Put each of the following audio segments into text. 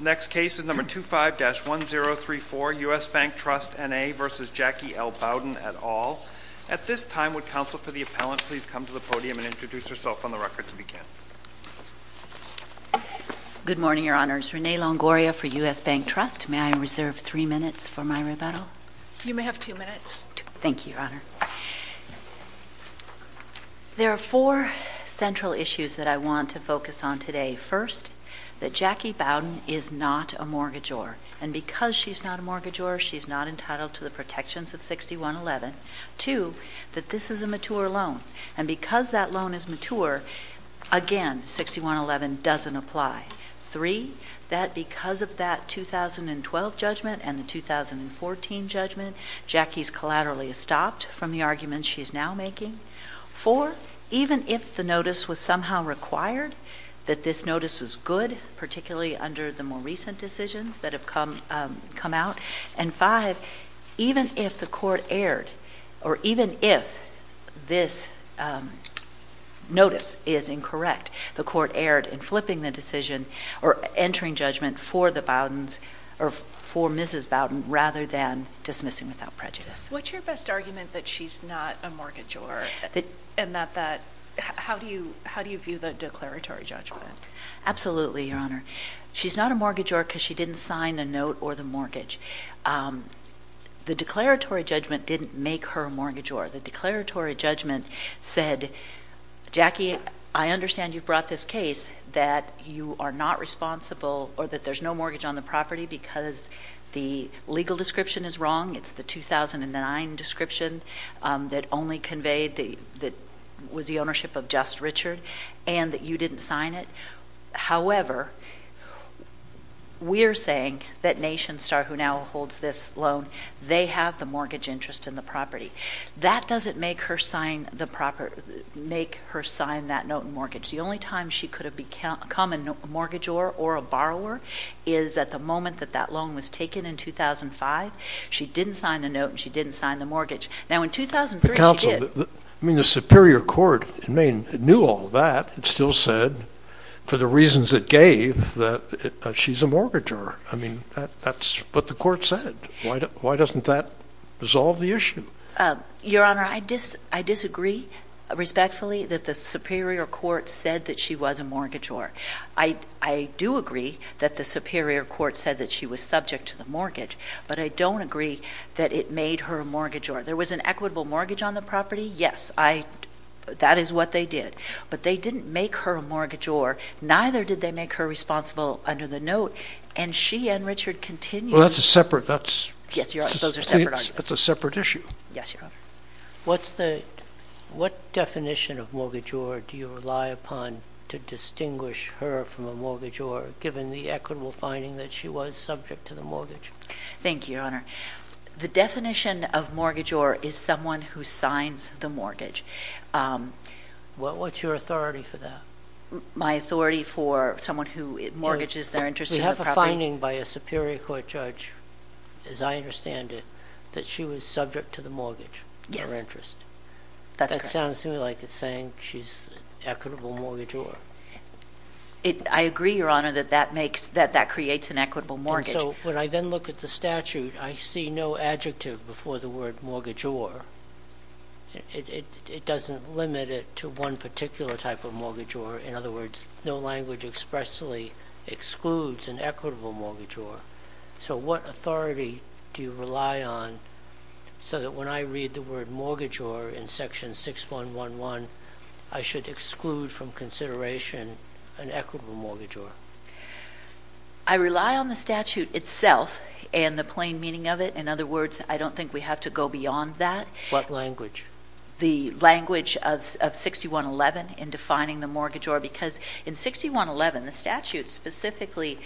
Next case is No. 25-1034, U.S. Bank Trust, N.A. v. Jackie L. Bowden, et al. At this time, would counsel for the appellant please come to the podium and introduce herself on the record to begin? Good morning, Your Honors. Renee Longoria for U.S. Bank Trust. May I reserve three minutes for my rebuttal? You may have two minutes. Thank you, Your Honor. There are four central issues that I want to focus on today. First, that Jackie Bowden is not a mortgagor, and because she's not a mortgagor, she's not entitled to the protections of 6111. Two, that this is a mature loan, and because that loan is mature, again, 6111 doesn't apply. Three, that because of that 2012 judgment and the 2014 judgment, Jackie's collaterally stopped from the arguments she's now making. Four, even if the notice was somehow required, that this notice was good, particularly under the more recent decisions that have come out. And five, even if the court erred, or even if this notice is incorrect, the court erred in flipping the decision or entering judgment for the Bowdens, or for Mrs. Bowden, rather than dismissing without prejudice. What's your best argument that she's not a mortgagor, and how do you view the declaratory judgment? Absolutely, Your Honor. She's not a mortgagor because she didn't sign a note or the mortgage. The declaratory judgment didn't make her a mortgagor. The declaratory judgment said, Jackie, I understand you brought this case that you are not responsible, or that there's no mortgage on the property because the legal description is wrong. It's the 2009 description that only conveyed that was the ownership of just Richard, and that you didn't sign it. However, we're saying that NationStar, who now holds this loan, they have the mortgage interest in the property. That doesn't make her sign that note and mortgage. The only time she could have become a mortgagor or a borrower is at the moment that that loan was taken in 2005. She didn't sign the note, and she didn't sign the mortgage. Now, in 2003, she did. But, counsel, I mean, the Superior Court in Maine knew all that. It still said, for the reasons it gave, that she's a mortgagor. I mean, that's what the court said. Why doesn't that resolve the issue? Your Honor, I disagree respectfully that the Superior Court said that she was a mortgagor. I do agree that the Superior Court said that she was subject to the mortgage, but I don't agree that it made her a mortgagor. There was an equitable mortgage on the property, yes, that is what they did. But they didn't make her a mortgagor, neither did they make her responsible under the note. And she and Richard continue- Well, that's a separate, that's- Yes, Your Honor, those are separate arguments. That's a separate issue. Yes, Your Honor. What's the, what definition of mortgagor do you rely upon to distinguish her from a mortgagor, given the equitable finding that she was subject to the mortgage? Thank you, Your Honor. The definition of mortgagor is someone who signs the mortgage. What's your authority for that? My authority for someone who mortgages their interest in the property- The finding by a Superior Court judge, as I understand it, that she was subject to the mortgage, her interest. Yes, that's correct. That sounds to me like it's saying she's equitable mortgagor. I agree, Your Honor, that that makes, that that creates an equitable mortgage. And so, when I then look at the statute, I see no adjective before the word mortgagor. It doesn't limit it to one particular type of mortgagor. In other words, no language expressly excludes an equitable mortgagor. So what authority do you rely on so that when I read the word mortgagor in section 6111, I should exclude from consideration an equitable mortgagor? I rely on the statute itself and the plain meaning of it. In other words, I don't think we have to go beyond that. What language? The language of 6111 in defining the mortgagor. Because in 6111, the statute specifically,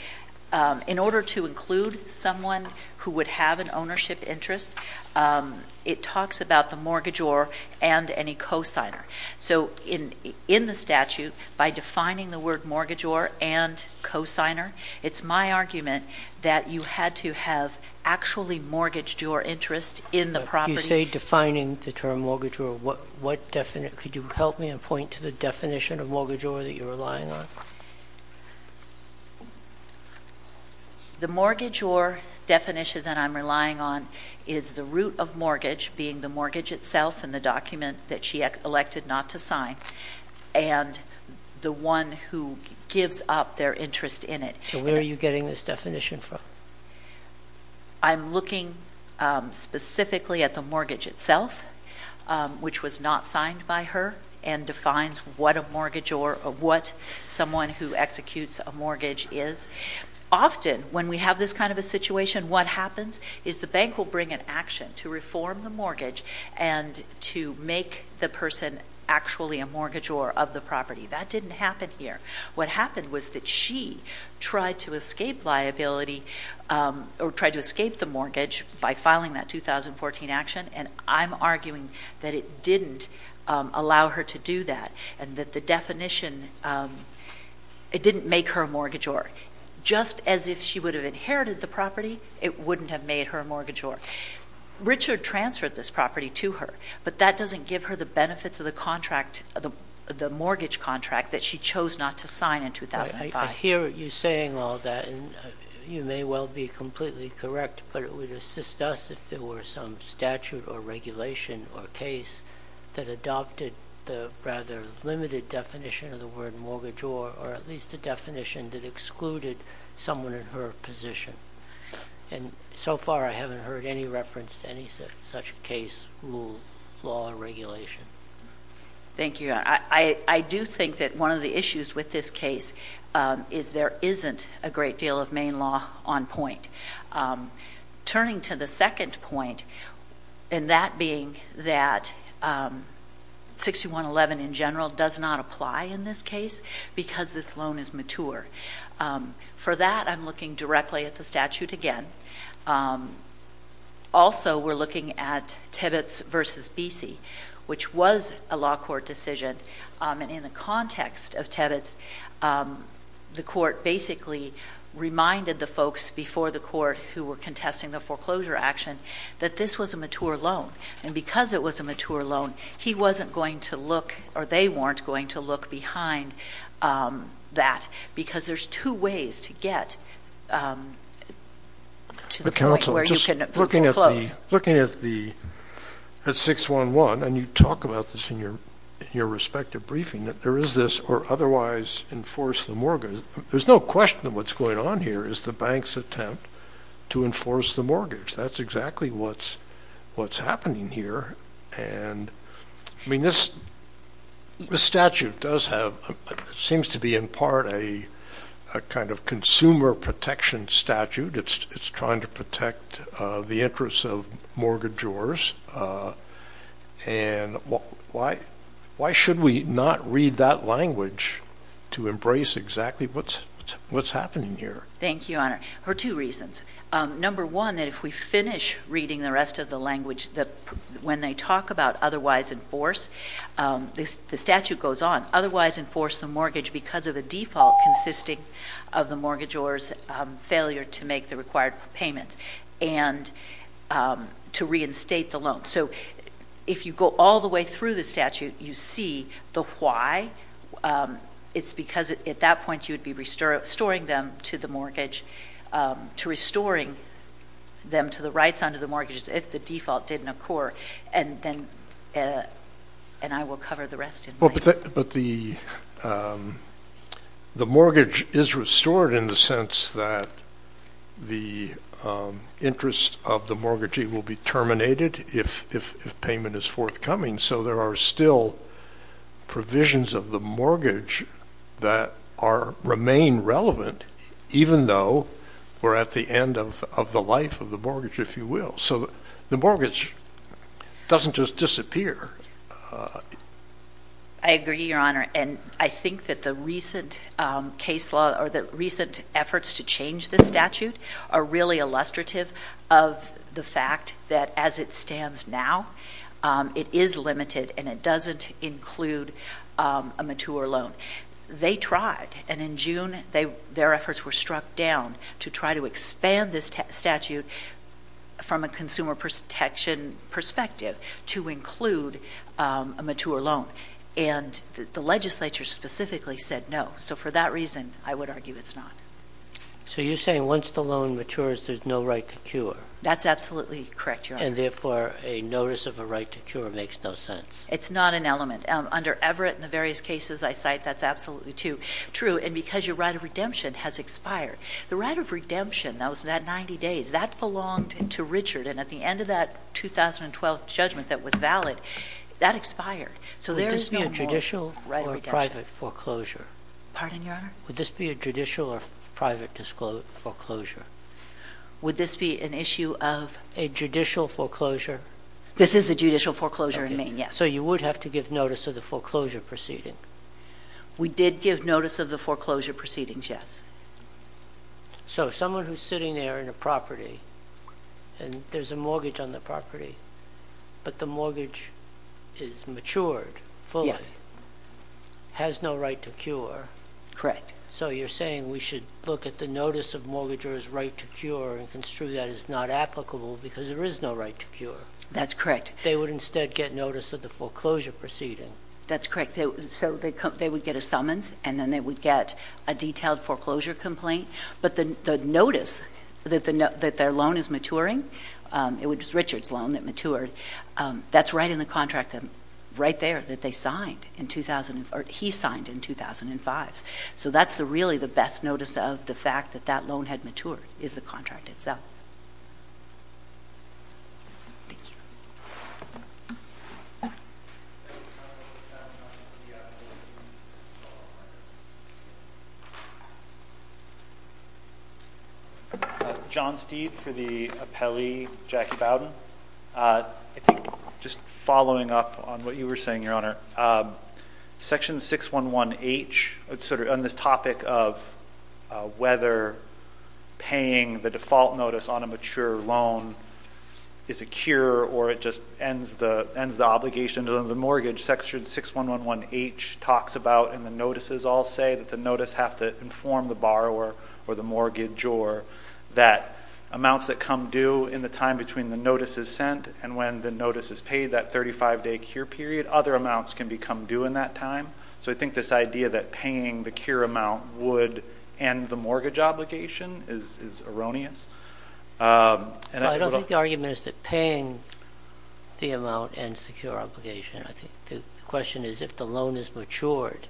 in order to include someone who would have an ownership interest, it talks about the mortgagor and any cosigner. So in the statute, by defining the word mortgagor and cosigner, it's my argument that you had to have actually mortgaged your interest in the property- Mortgagor, could you help me and point to the definition of mortgagor that you're relying on? The mortgagor definition that I'm relying on is the root of mortgage, being the mortgage itself and the document that she elected not to sign, and the one who gives up their interest in it. So where are you getting this definition from? I'm looking specifically at the mortgage itself, which was not signed by her, and defines what a mortgagor or what someone who executes a mortgage is. Often, when we have this kind of a situation, what happens is the bank will bring an action to reform the mortgage and to make the person actually a mortgagor of the property. That didn't happen here. What happened was that she tried to escape liability, or tried to escape the mortgage by filing that 2014 action, and I'm arguing that it didn't allow her to do that. And that the definition, it didn't make her a mortgagor. Just as if she would have inherited the property, it wouldn't have made her a mortgagor. Richard transferred this property to her, but that doesn't give her the benefits of the contract, the mortgage contract that she chose not to sign in 2005. I hear you saying all that, and you may well be completely correct, but it would assist us if there were some statute or regulation or case that adopted the rather limited definition of the word mortgagor, or at least a definition that excluded someone in her position. And so far, I haven't heard any reference to any such case, rule, law, or regulation. Thank you, I do think that one of the issues with this case is there isn't a great deal of main law on point. Turning to the second point, and that being that 6111 in general does not apply in this case because this loan is mature. For that, I'm looking directly at the statute again. Also, we're looking at Tibbets versus Bese, which was a law court decision. And in the context of Tibbets, the court basically reminded the folks before the court who were contesting the foreclosure action that this was a mature loan. And because it was a mature loan, he wasn't going to look, or they weren't going to look behind that. Because there's two ways to get to the point where you can close. Looking at 611, and you talk about this in your respective briefing, that there is this or otherwise enforce the mortgage. There's no question that what's going on here is the bank's attempt to enforce the mortgage. That's exactly what's happening here. And I mean, this statute does have, seems to be in part a kind of consumer protection statute. It's trying to protect the interests of mortgagors. And why should we not read that language to embrace exactly what's happening here? Thank you, Your Honor, for two reasons. Number one, that if we finish reading the rest of the language that when they talk about otherwise enforce, the statute goes on, otherwise enforce the mortgage because of a default consisting of the mortgagor's failure to make the required payments and to reinstate the loan. So if you go all the way through the statute, you see the why. It's because at that point you would be restoring them to the mortgage. To restoring them to the rights under the mortgages if the default didn't occur. And then, and I will cover the rest in my- But the mortgage is restored in the sense that the interest of the mortgagee will be terminated if payment is forthcoming. So there are still provisions of the mortgage that remain relevant, even though we're at the end of the life of the mortgage, if you will. So the mortgage doesn't just disappear. I agree, Your Honor, and I think that the recent case law or the recent efforts to change the statute are really illustrative of the fact that as it stands now, it is limited and it doesn't include a mature loan. But they tried, and in June, their efforts were struck down to try to expand this statute from a consumer protection perspective to include a mature loan. And the legislature specifically said no. So for that reason, I would argue it's not. So you're saying once the loan matures, there's no right to cure? That's absolutely correct, Your Honor. And therefore, a notice of a right to cure makes no sense? It's not an element. Under Everett and the various cases I cite, that's absolutely true. And because your right of redemption has expired. The right of redemption, that was that 90 days, that belonged to Richard. And at the end of that 2012 judgment that was valid, that expired. So there is no more right of redemption. Would this be a judicial or private foreclosure? Pardon, Your Honor? Would this be a judicial or private foreclosure? Would this be an issue of- A judicial foreclosure? This is a judicial foreclosure in Maine, yes. So you would have to give notice of the foreclosure proceeding? We did give notice of the foreclosure proceedings, yes. So someone who's sitting there in a property, and there's a mortgage on the property, but the mortgage is matured fully, has no right to cure. Correct. So you're saying we should look at the notice of mortgager's right to cure and construe that as not applicable because there is no right to cure? That's correct. They would instead get notice of the foreclosure proceeding? That's correct. So they would get a summons, and then they would get a detailed foreclosure complaint. But the notice that their loan is maturing, it was Richard's loan that matured, that's right in the contract, right there, that they signed in 2000, or he signed in 2005. So that's really the best notice of the fact that that loan had matured, is the contract itself. Thank you. John Steed for the appellee, Jackie Bowden. I think just following up on what you were saying, Your Honor. Section 611H, it's sort of on this topic of whether paying the default notice on the foreclosure, notice on a mature loan is a cure or it just ends the obligation to the mortgage. Section 611H talks about, and the notices all say that the notice have to inform the borrower or the mortgage or that amounts that come due in the time between the notice is sent and when the notice is paid, that 35 day cure period, other amounts can become due in that time. So I think this idea that paying the cure amount would end the mortgage obligation is erroneous. I don't think the argument is that paying the amount ends the cure obligation. I think the question is if the loan is matured,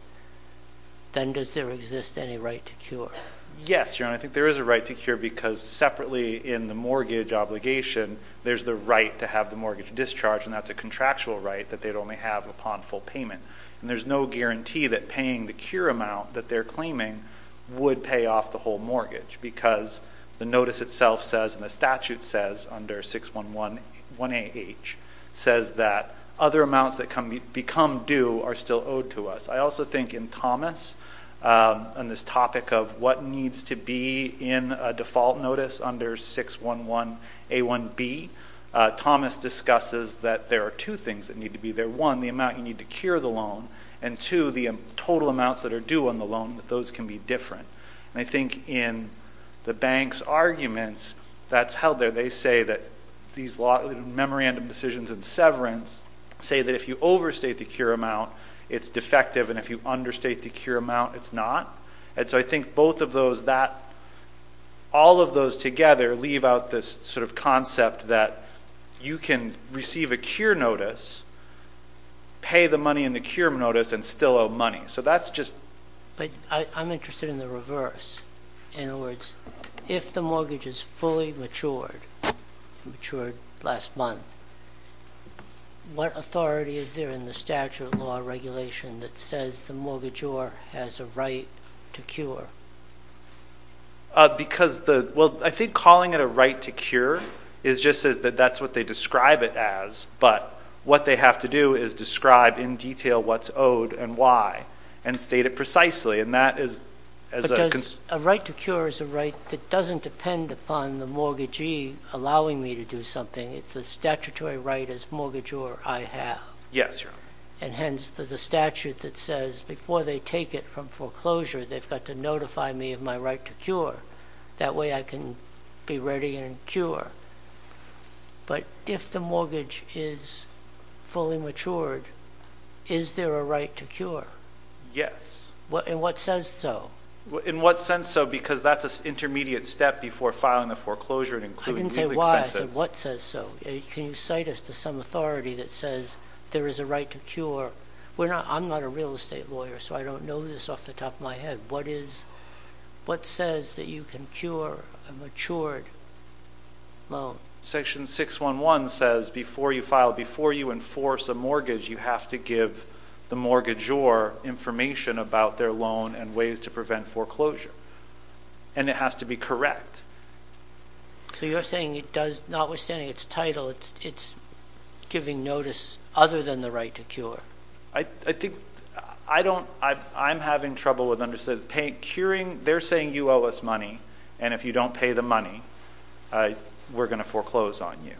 then does there exist any right to cure? Yes, Your Honor, I think there is a right to cure because separately in the mortgage obligation, there's the right to have the mortgage discharge and that's a contractual right that they'd only have upon full payment. And there's no guarantee that paying the cure amount that they're claiming would pay off the whole mortgage. Because the notice itself says, and the statute says under 6111AH, says that other amounts that become due are still owed to us. I also think in Thomas, on this topic of what needs to be in a default notice under 611A1B. Thomas discusses that there are two things that need to be there. One, the amount you need to cure the loan. And two, the total amounts that are due on the loan, that those can be different. And I think in the bank's arguments, that's how they say that these memorandum decisions and severance say that if you overstate the cure amount, it's defective. And if you understate the cure amount, it's not. And so I think both of those, all of those together leave out this sort of pay the money in the cure notice and still owe money. So that's just- But I'm interested in the reverse. In other words, if the mortgage is fully matured, matured last month, what authority is there in the statute law regulation that says the mortgagor has a right to cure? Because the, well, I think calling it a right to cure is just says that that's what they describe it as. But what they have to do is describe in detail what's owed and why, and state it precisely. And that is, as a- But does, a right to cure is a right that doesn't depend upon the mortgagee allowing me to do something. It's a statutory right as mortgagor I have. Yes, Your Honor. And hence, there's a statute that says before they take it from foreclosure, they've got to notify me of my right to cure. That way I can be ready and cure. But if the mortgage is fully matured, is there a right to cure? Yes. And what says so? In what sense so? Because that's an intermediate step before filing a foreclosure and including legal expenses. I didn't say why. I said what says so. Can you cite us to some authority that says there is a right to cure? I'm not a real estate lawyer, so I don't know this off the top of my head. What is, what says that you can cure a matured loan? Section 611 says before you file, before you enforce a mortgage, you have to give the mortgagor information about their loan and ways to prevent foreclosure. And it has to be correct. So you're saying it does, notwithstanding its title, it's giving notice other than the right to cure. I think, I don't, I'm having trouble with understanding, paying, curing, they're saying you owe us money, and if you don't pay the money, we're going to foreclose on you.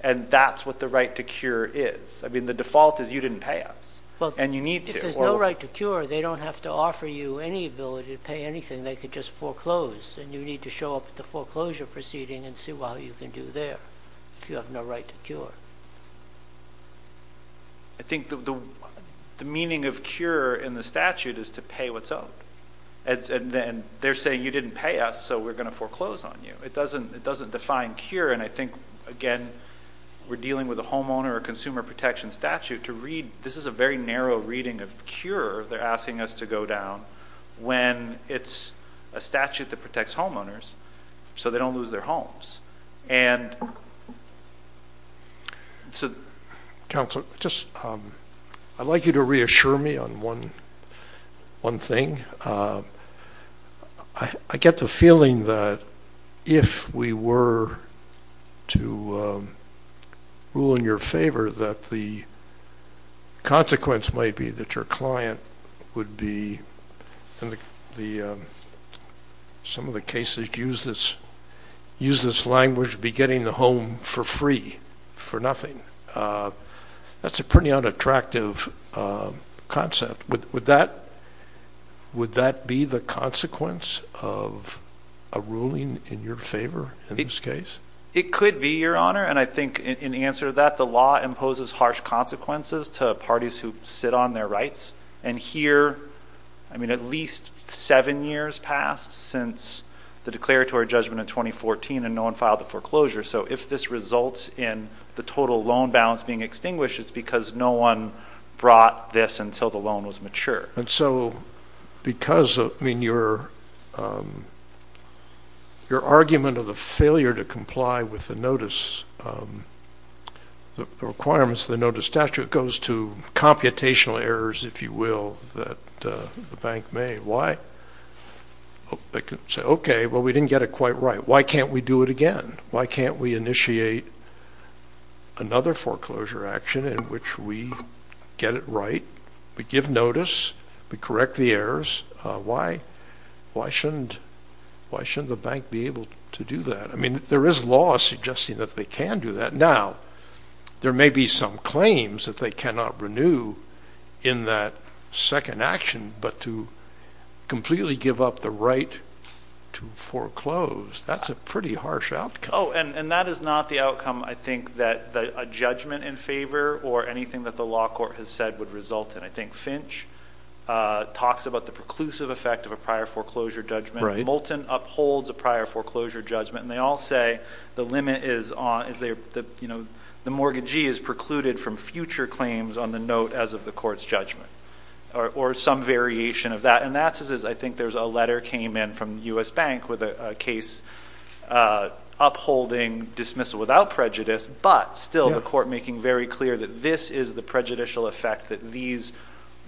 And that's what the right to cure is. I mean, the default is you didn't pay us, and you need to. If there's no right to cure, they don't have to offer you any ability to pay anything. They could just foreclose, and you need to show up at the foreclosure proceeding and see what you can do there if you have no right to cure. I think the meaning of cure in the statute is to pay what's owed. And they're saying you didn't pay us, so we're going to foreclose on you. It doesn't define cure, and I think, again, we're dealing with a homeowner or consumer protection statute to read, this is a very narrow reading of cure they're asking us to go down. When it's a statute that protects homeowners, so they don't lose their homes. And so, Counselor, just I'd like you to reassure me on one thing. I get the feeling that if we were to rule in your favor, that the consequence might be that your client would be, in some of the cases, use this language, be getting the home for free, for nothing. That's a pretty unattractive concept. Would that be the consequence of a ruling in your favor in this case? It could be, Your Honor, and I think in answer to that, the law imposes harsh consequences to parties who sit on their rights. And here, I mean, at least seven years passed since the declaratory judgment in 2014, and no one filed a foreclosure. So, if this results in the total loan balance being extinguished, it's because no one brought this until the loan was matured. And so, because, I mean, your argument of the failure to comply with the notice, the requirements of the notice statute goes to computational errors. If you will, that the bank made. Why? They could say, okay, well, we didn't get it quite right. Why can't we do it again? Why can't we initiate another foreclosure action in which we get it right? We give notice. We correct the errors. Why? Why shouldn't the bank be able to do that? I mean, there is law suggesting that they can do that. Now, there may be some claims that they cannot renew in that second action, but to completely give up the right to foreclose, that's a pretty harsh outcome. Oh, and that is not the outcome, I think, that a judgment in favor or anything that the law court has said would result in. I think Finch talks about the preclusive effect of a prior foreclosure judgment. Right. Moulton upholds a prior foreclosure judgment. And they all say the limit is the mortgagee is precluded from future claims on the note as of the court's judgment or some variation of that. And that's as I think there's a letter came in from U.S. Bank with a case upholding dismissal without prejudice, but still the court making very clear that this is the prejudicial effect that these,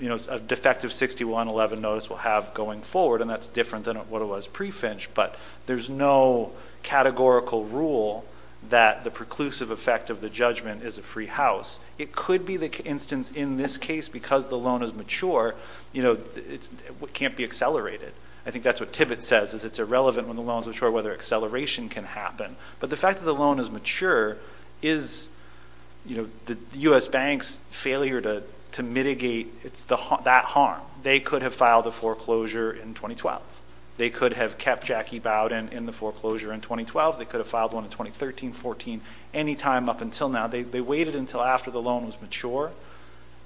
you know, a defective 6111 notice will have going forward. And that's different than what it was pre-Finch. But there's no categorical rule that the preclusive effect of the judgment is a free house. It could be the instance in this case because the loan is mature, you know, it can't be accelerated. I think that's what Tibbet says is it's irrelevant when the loan is mature whether acceleration can happen. But the fact that the loan is mature is, you know, the U.S. Bank's failure to mitigate that harm. They could have filed a foreclosure in 2012. They could have kept Jackie Bowden in the foreclosure in 2012. They could have filed one in 2013, 14, any time up until now. They waited until after the loan was mature.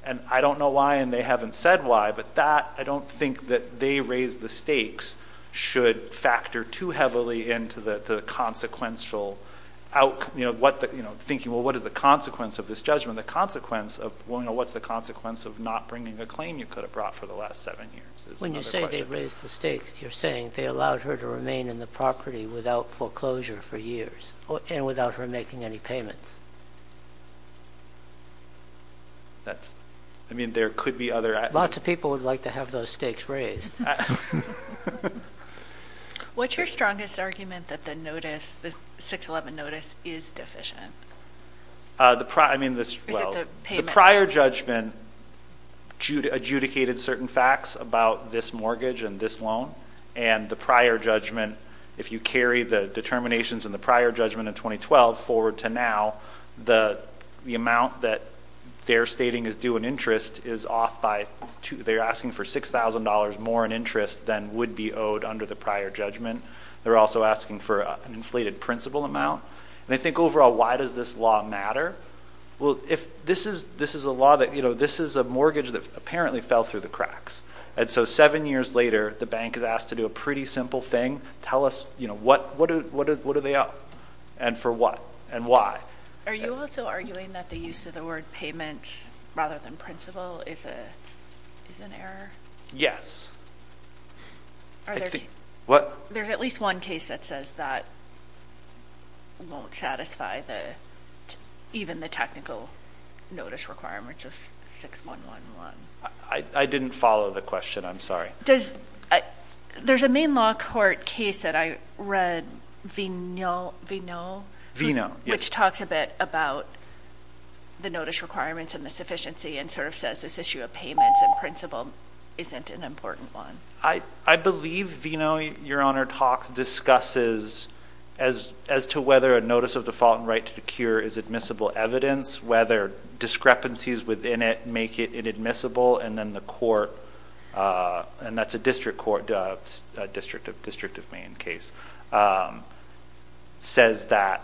And I don't know why and they haven't said why. But that, I don't think that they raised the stakes should factor too heavily into the consequential outcome, you know, what the, you know, thinking well what is the consequence of this judgment? The consequence of, well, you know, what's the consequence of not bringing a claim you could have brought for the last seven years? When you say they raised the stakes, you're saying they allowed her to remain in the property without foreclosure for years and without her making any payments? That's, I mean, there could be other. Lots of people would like to have those stakes raised. What's your strongest argument that the notice, the 611 notice is deficient? The prior, I mean, the prior judgment adjudicated certain facts about this mortgage and this loan. And the prior judgment, if you carry the determinations in the prior judgment in 2012 forward to now, the amount that they're stating is due an interest is off by, they're asking for $6,000 more in interest than would be owed under the prior judgment. They're also asking for an inflated principal amount. And I think overall, why does this law matter? Well, if this is, this is a law that, you know, this is a mortgage that apparently fell through the cracks. And so seven years later, the bank is asked to do a pretty simple thing. Tell us, you know, what do they owe? And for what? And why? Are you also arguing that the use of the word payments rather than principal is an error? Yes. Are there, there's at least one case that says that won't satisfy the, even the technical notice requirements of 6111? I didn't follow the question. I'm sorry. Does, there's a main law court case that I read, Vino, which talks a bit about the notice requirements and the sufficiency and sort of says this issue of payments and principal isn't an important one. I believe Vino, Your Honor, talks, discusses as to whether a notice of default and right to procure is admissible evidence, whether discrepancies within it make it inadmissible. And then the court, and that's a district court, a district of Maine case, says that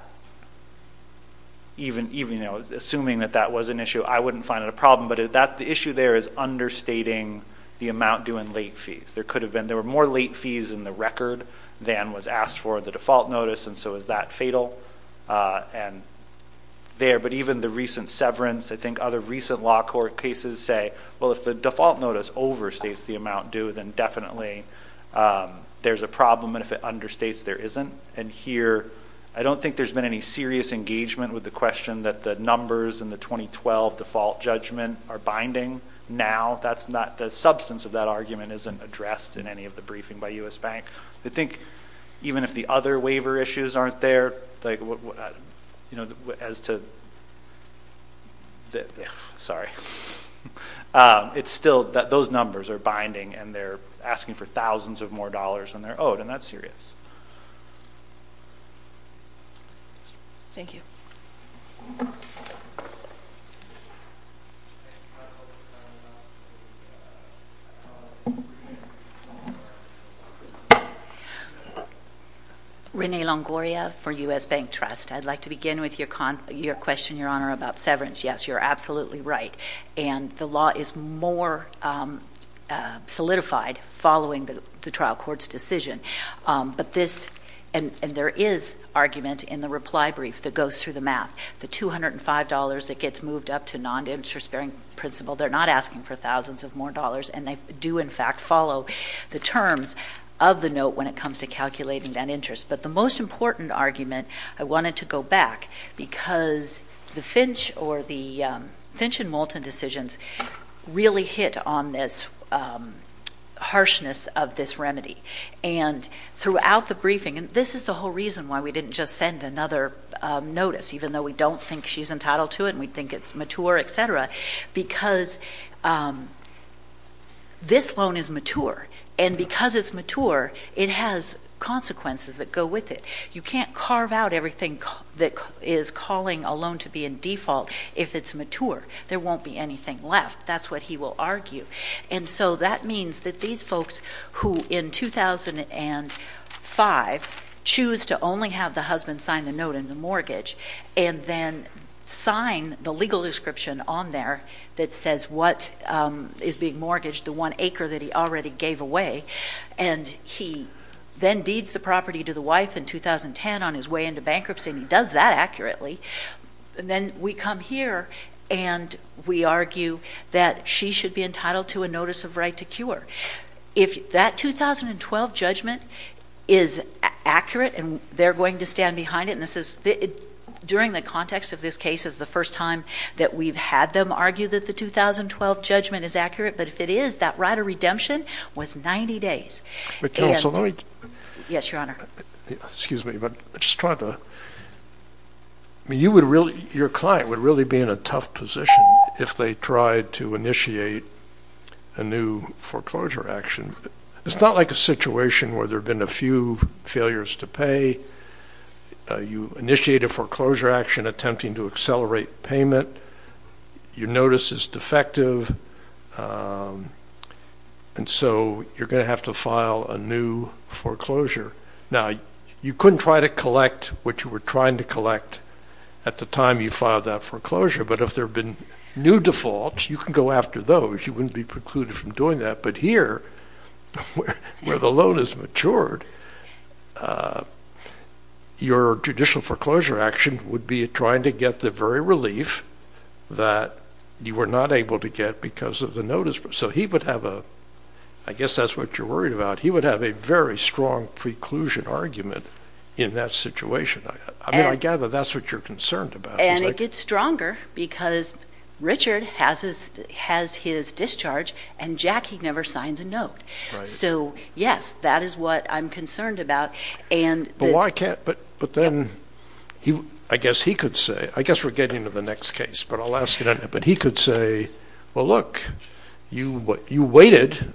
even, you know, assuming that that was an issue, I wouldn't find it a problem. But that, the issue there is understating the amount due in late fees. There could have been, there were more late fees in the record than was asked for the default notice. And so is that fatal? And there, but even the recent severance, I think other recent law court cases say, well, if the default notice overstates the amount due, then definitely there's a problem. And if it understates, there isn't. And here, I don't think there's been any serious engagement with the question that the numbers in the 2012 default judgment are binding. Now, that's not, the substance of that argument isn't addressed in any of the briefing by U.S. Bank. I think even if the other waiver issues aren't there, like what, you know, as to, sorry. It's still, those numbers are binding and they're asking for thousands of more dollars than they're owed, and that's serious. Thank you. Renee Longoria for U.S. Bank Trust. I'd like to begin with your question, Your Honor, about severance. Yes, you're absolutely right. And the law is more solidified following the trial court's decision. But this, and there is argument in the reply brief that goes through the math. The $205 that gets moved up to non-interest bearing principle, they're not asking for thousands of more dollars, and they do, in fact, follow the terms of the note when it comes to calculating that interest. But the most important argument, I wanted to go back because the Finch or the Finch and Moulton decisions really hit on this harshness of this remedy. And throughout the briefing, and this is the whole reason why we didn't just send another notice, even though we don't think she's entitled to it and we think it's mature, et cetera, because this loan is mature. And because it's mature, it has consequences that go with it. You can't carve out everything that is calling a loan to be in default if it's mature. There won't be anything left, that's what he will argue. And so that means that these folks who, in 2005, choose to only have the husband sign the note and the mortgage, and then sign the legal description on there that says what is being mortgaged, the one acre that he already gave away, and he then deeds the property to the wife in 2010 on his way into bankruptcy, and he does that accurately, and then we come here and we argue that she should be entitled to a notice of right to cure. If that 2012 judgment is accurate, and they're going to stand behind it, and this is during the context of this case is the first time that we've had them argue that the 2012 judgment is accurate, but if it is, that right of redemption was 90 days. And yes, Your Honor. Excuse me, but I'm just trying to, I mean, you would really, your client would really be in a tough position if they tried to initiate a new foreclosure action. It's not like a situation where there have been a few failures to pay. You initiate a foreclosure action attempting to accelerate payment. Your notice is defective, and so you're going to have to file a new foreclosure. Now, you couldn't try to collect what you were trying to collect at the time you filed that foreclosure, but if there have been new defaults, you can go after those. You wouldn't be precluded from doing that. But here, where the loan has matured, your judicial foreclosure action would be trying to get the very relief that you were not able to get because of the notice. So he would have a, I guess that's what you're worried about. He would have a very strong preclusion argument in that situation. I mean, I gather that's what you're concerned about. And it gets stronger because Richard has his discharge, and Jackie never signed a note. Right. So yes, that is what I'm concerned about. But why can't, but then, I guess he could say, I guess we're getting to the next case, but I'll ask it anyway. But he could say, well, look, you waited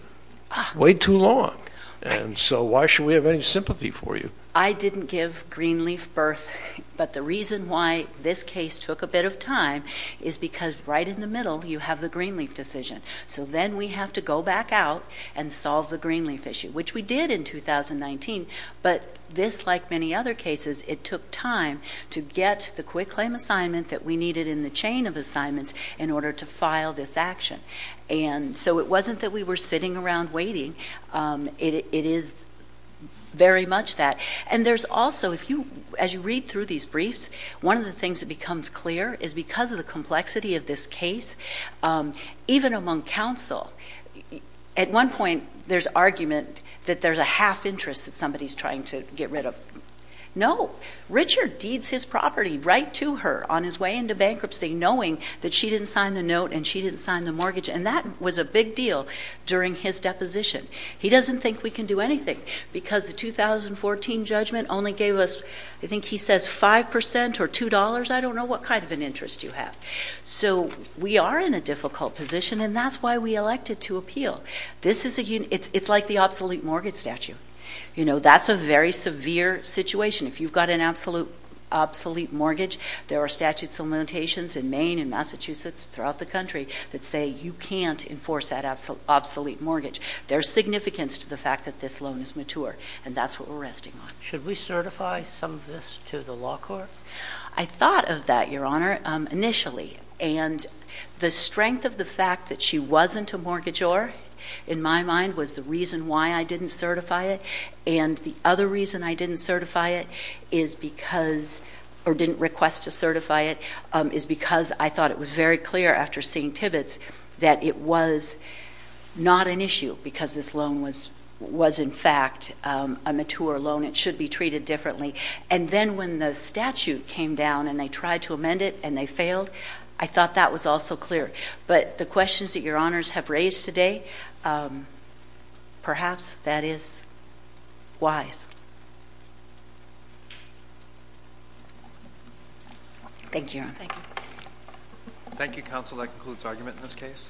way too long. And so why should we have any sympathy for you? I didn't give Greenleaf birth, but the reason why this case took a bit of time is because right in the middle, you have the Greenleaf decision. So then we have to go back out and solve the Greenleaf issue, which we did in 2019. But this, like many other cases, it took time to get the quick claim assignment that we needed in the chain of assignments in order to file this action. And so it wasn't that we were sitting around waiting, it is very much that. And there's also, as you read through these briefs, one of the things that becomes clear is because of the complexity of this case, even among counsel, at one point there's argument that there's a half interest that somebody's trying to get rid of. No, Richard deeds his property right to her on his way into bankruptcy, knowing that she didn't sign the note and she didn't sign the mortgage, and that was a big deal during his deposition. He doesn't think we can do anything, because the 2014 judgment only gave us, I think he says 5% or $2. I don't know what kind of an interest you have. So we are in a difficult position, and that's why we elected to appeal. This is a, it's like the obsolete mortgage statute. You know, that's a very severe situation. If you've got an absolute, obsolete mortgage, there are statute implementations in Maine and Massachusetts, throughout the country, that say you can't enforce that obsolete mortgage. There's significance to the fact that this loan is mature, and that's what we're resting on. Should we certify some of this to the law court? I thought of that, your honor, initially. And the strength of the fact that she wasn't a mortgagor, in my mind, was the reason why I didn't certify it, and the other reason I didn't certify it, is because, or didn't request to certify it, is because I thought it was very clear, after seeing Tibbetts, that it was not an issue, because this loan was in fact a mature loan. It should be treated differently. And then when the statute came down, and they tried to amend it, and they failed, I thought that was also clear. But the questions that your honors have raised today, perhaps that is wise. Thank you, your honor. Thank you. Thank you, counsel. That concludes argument in this case.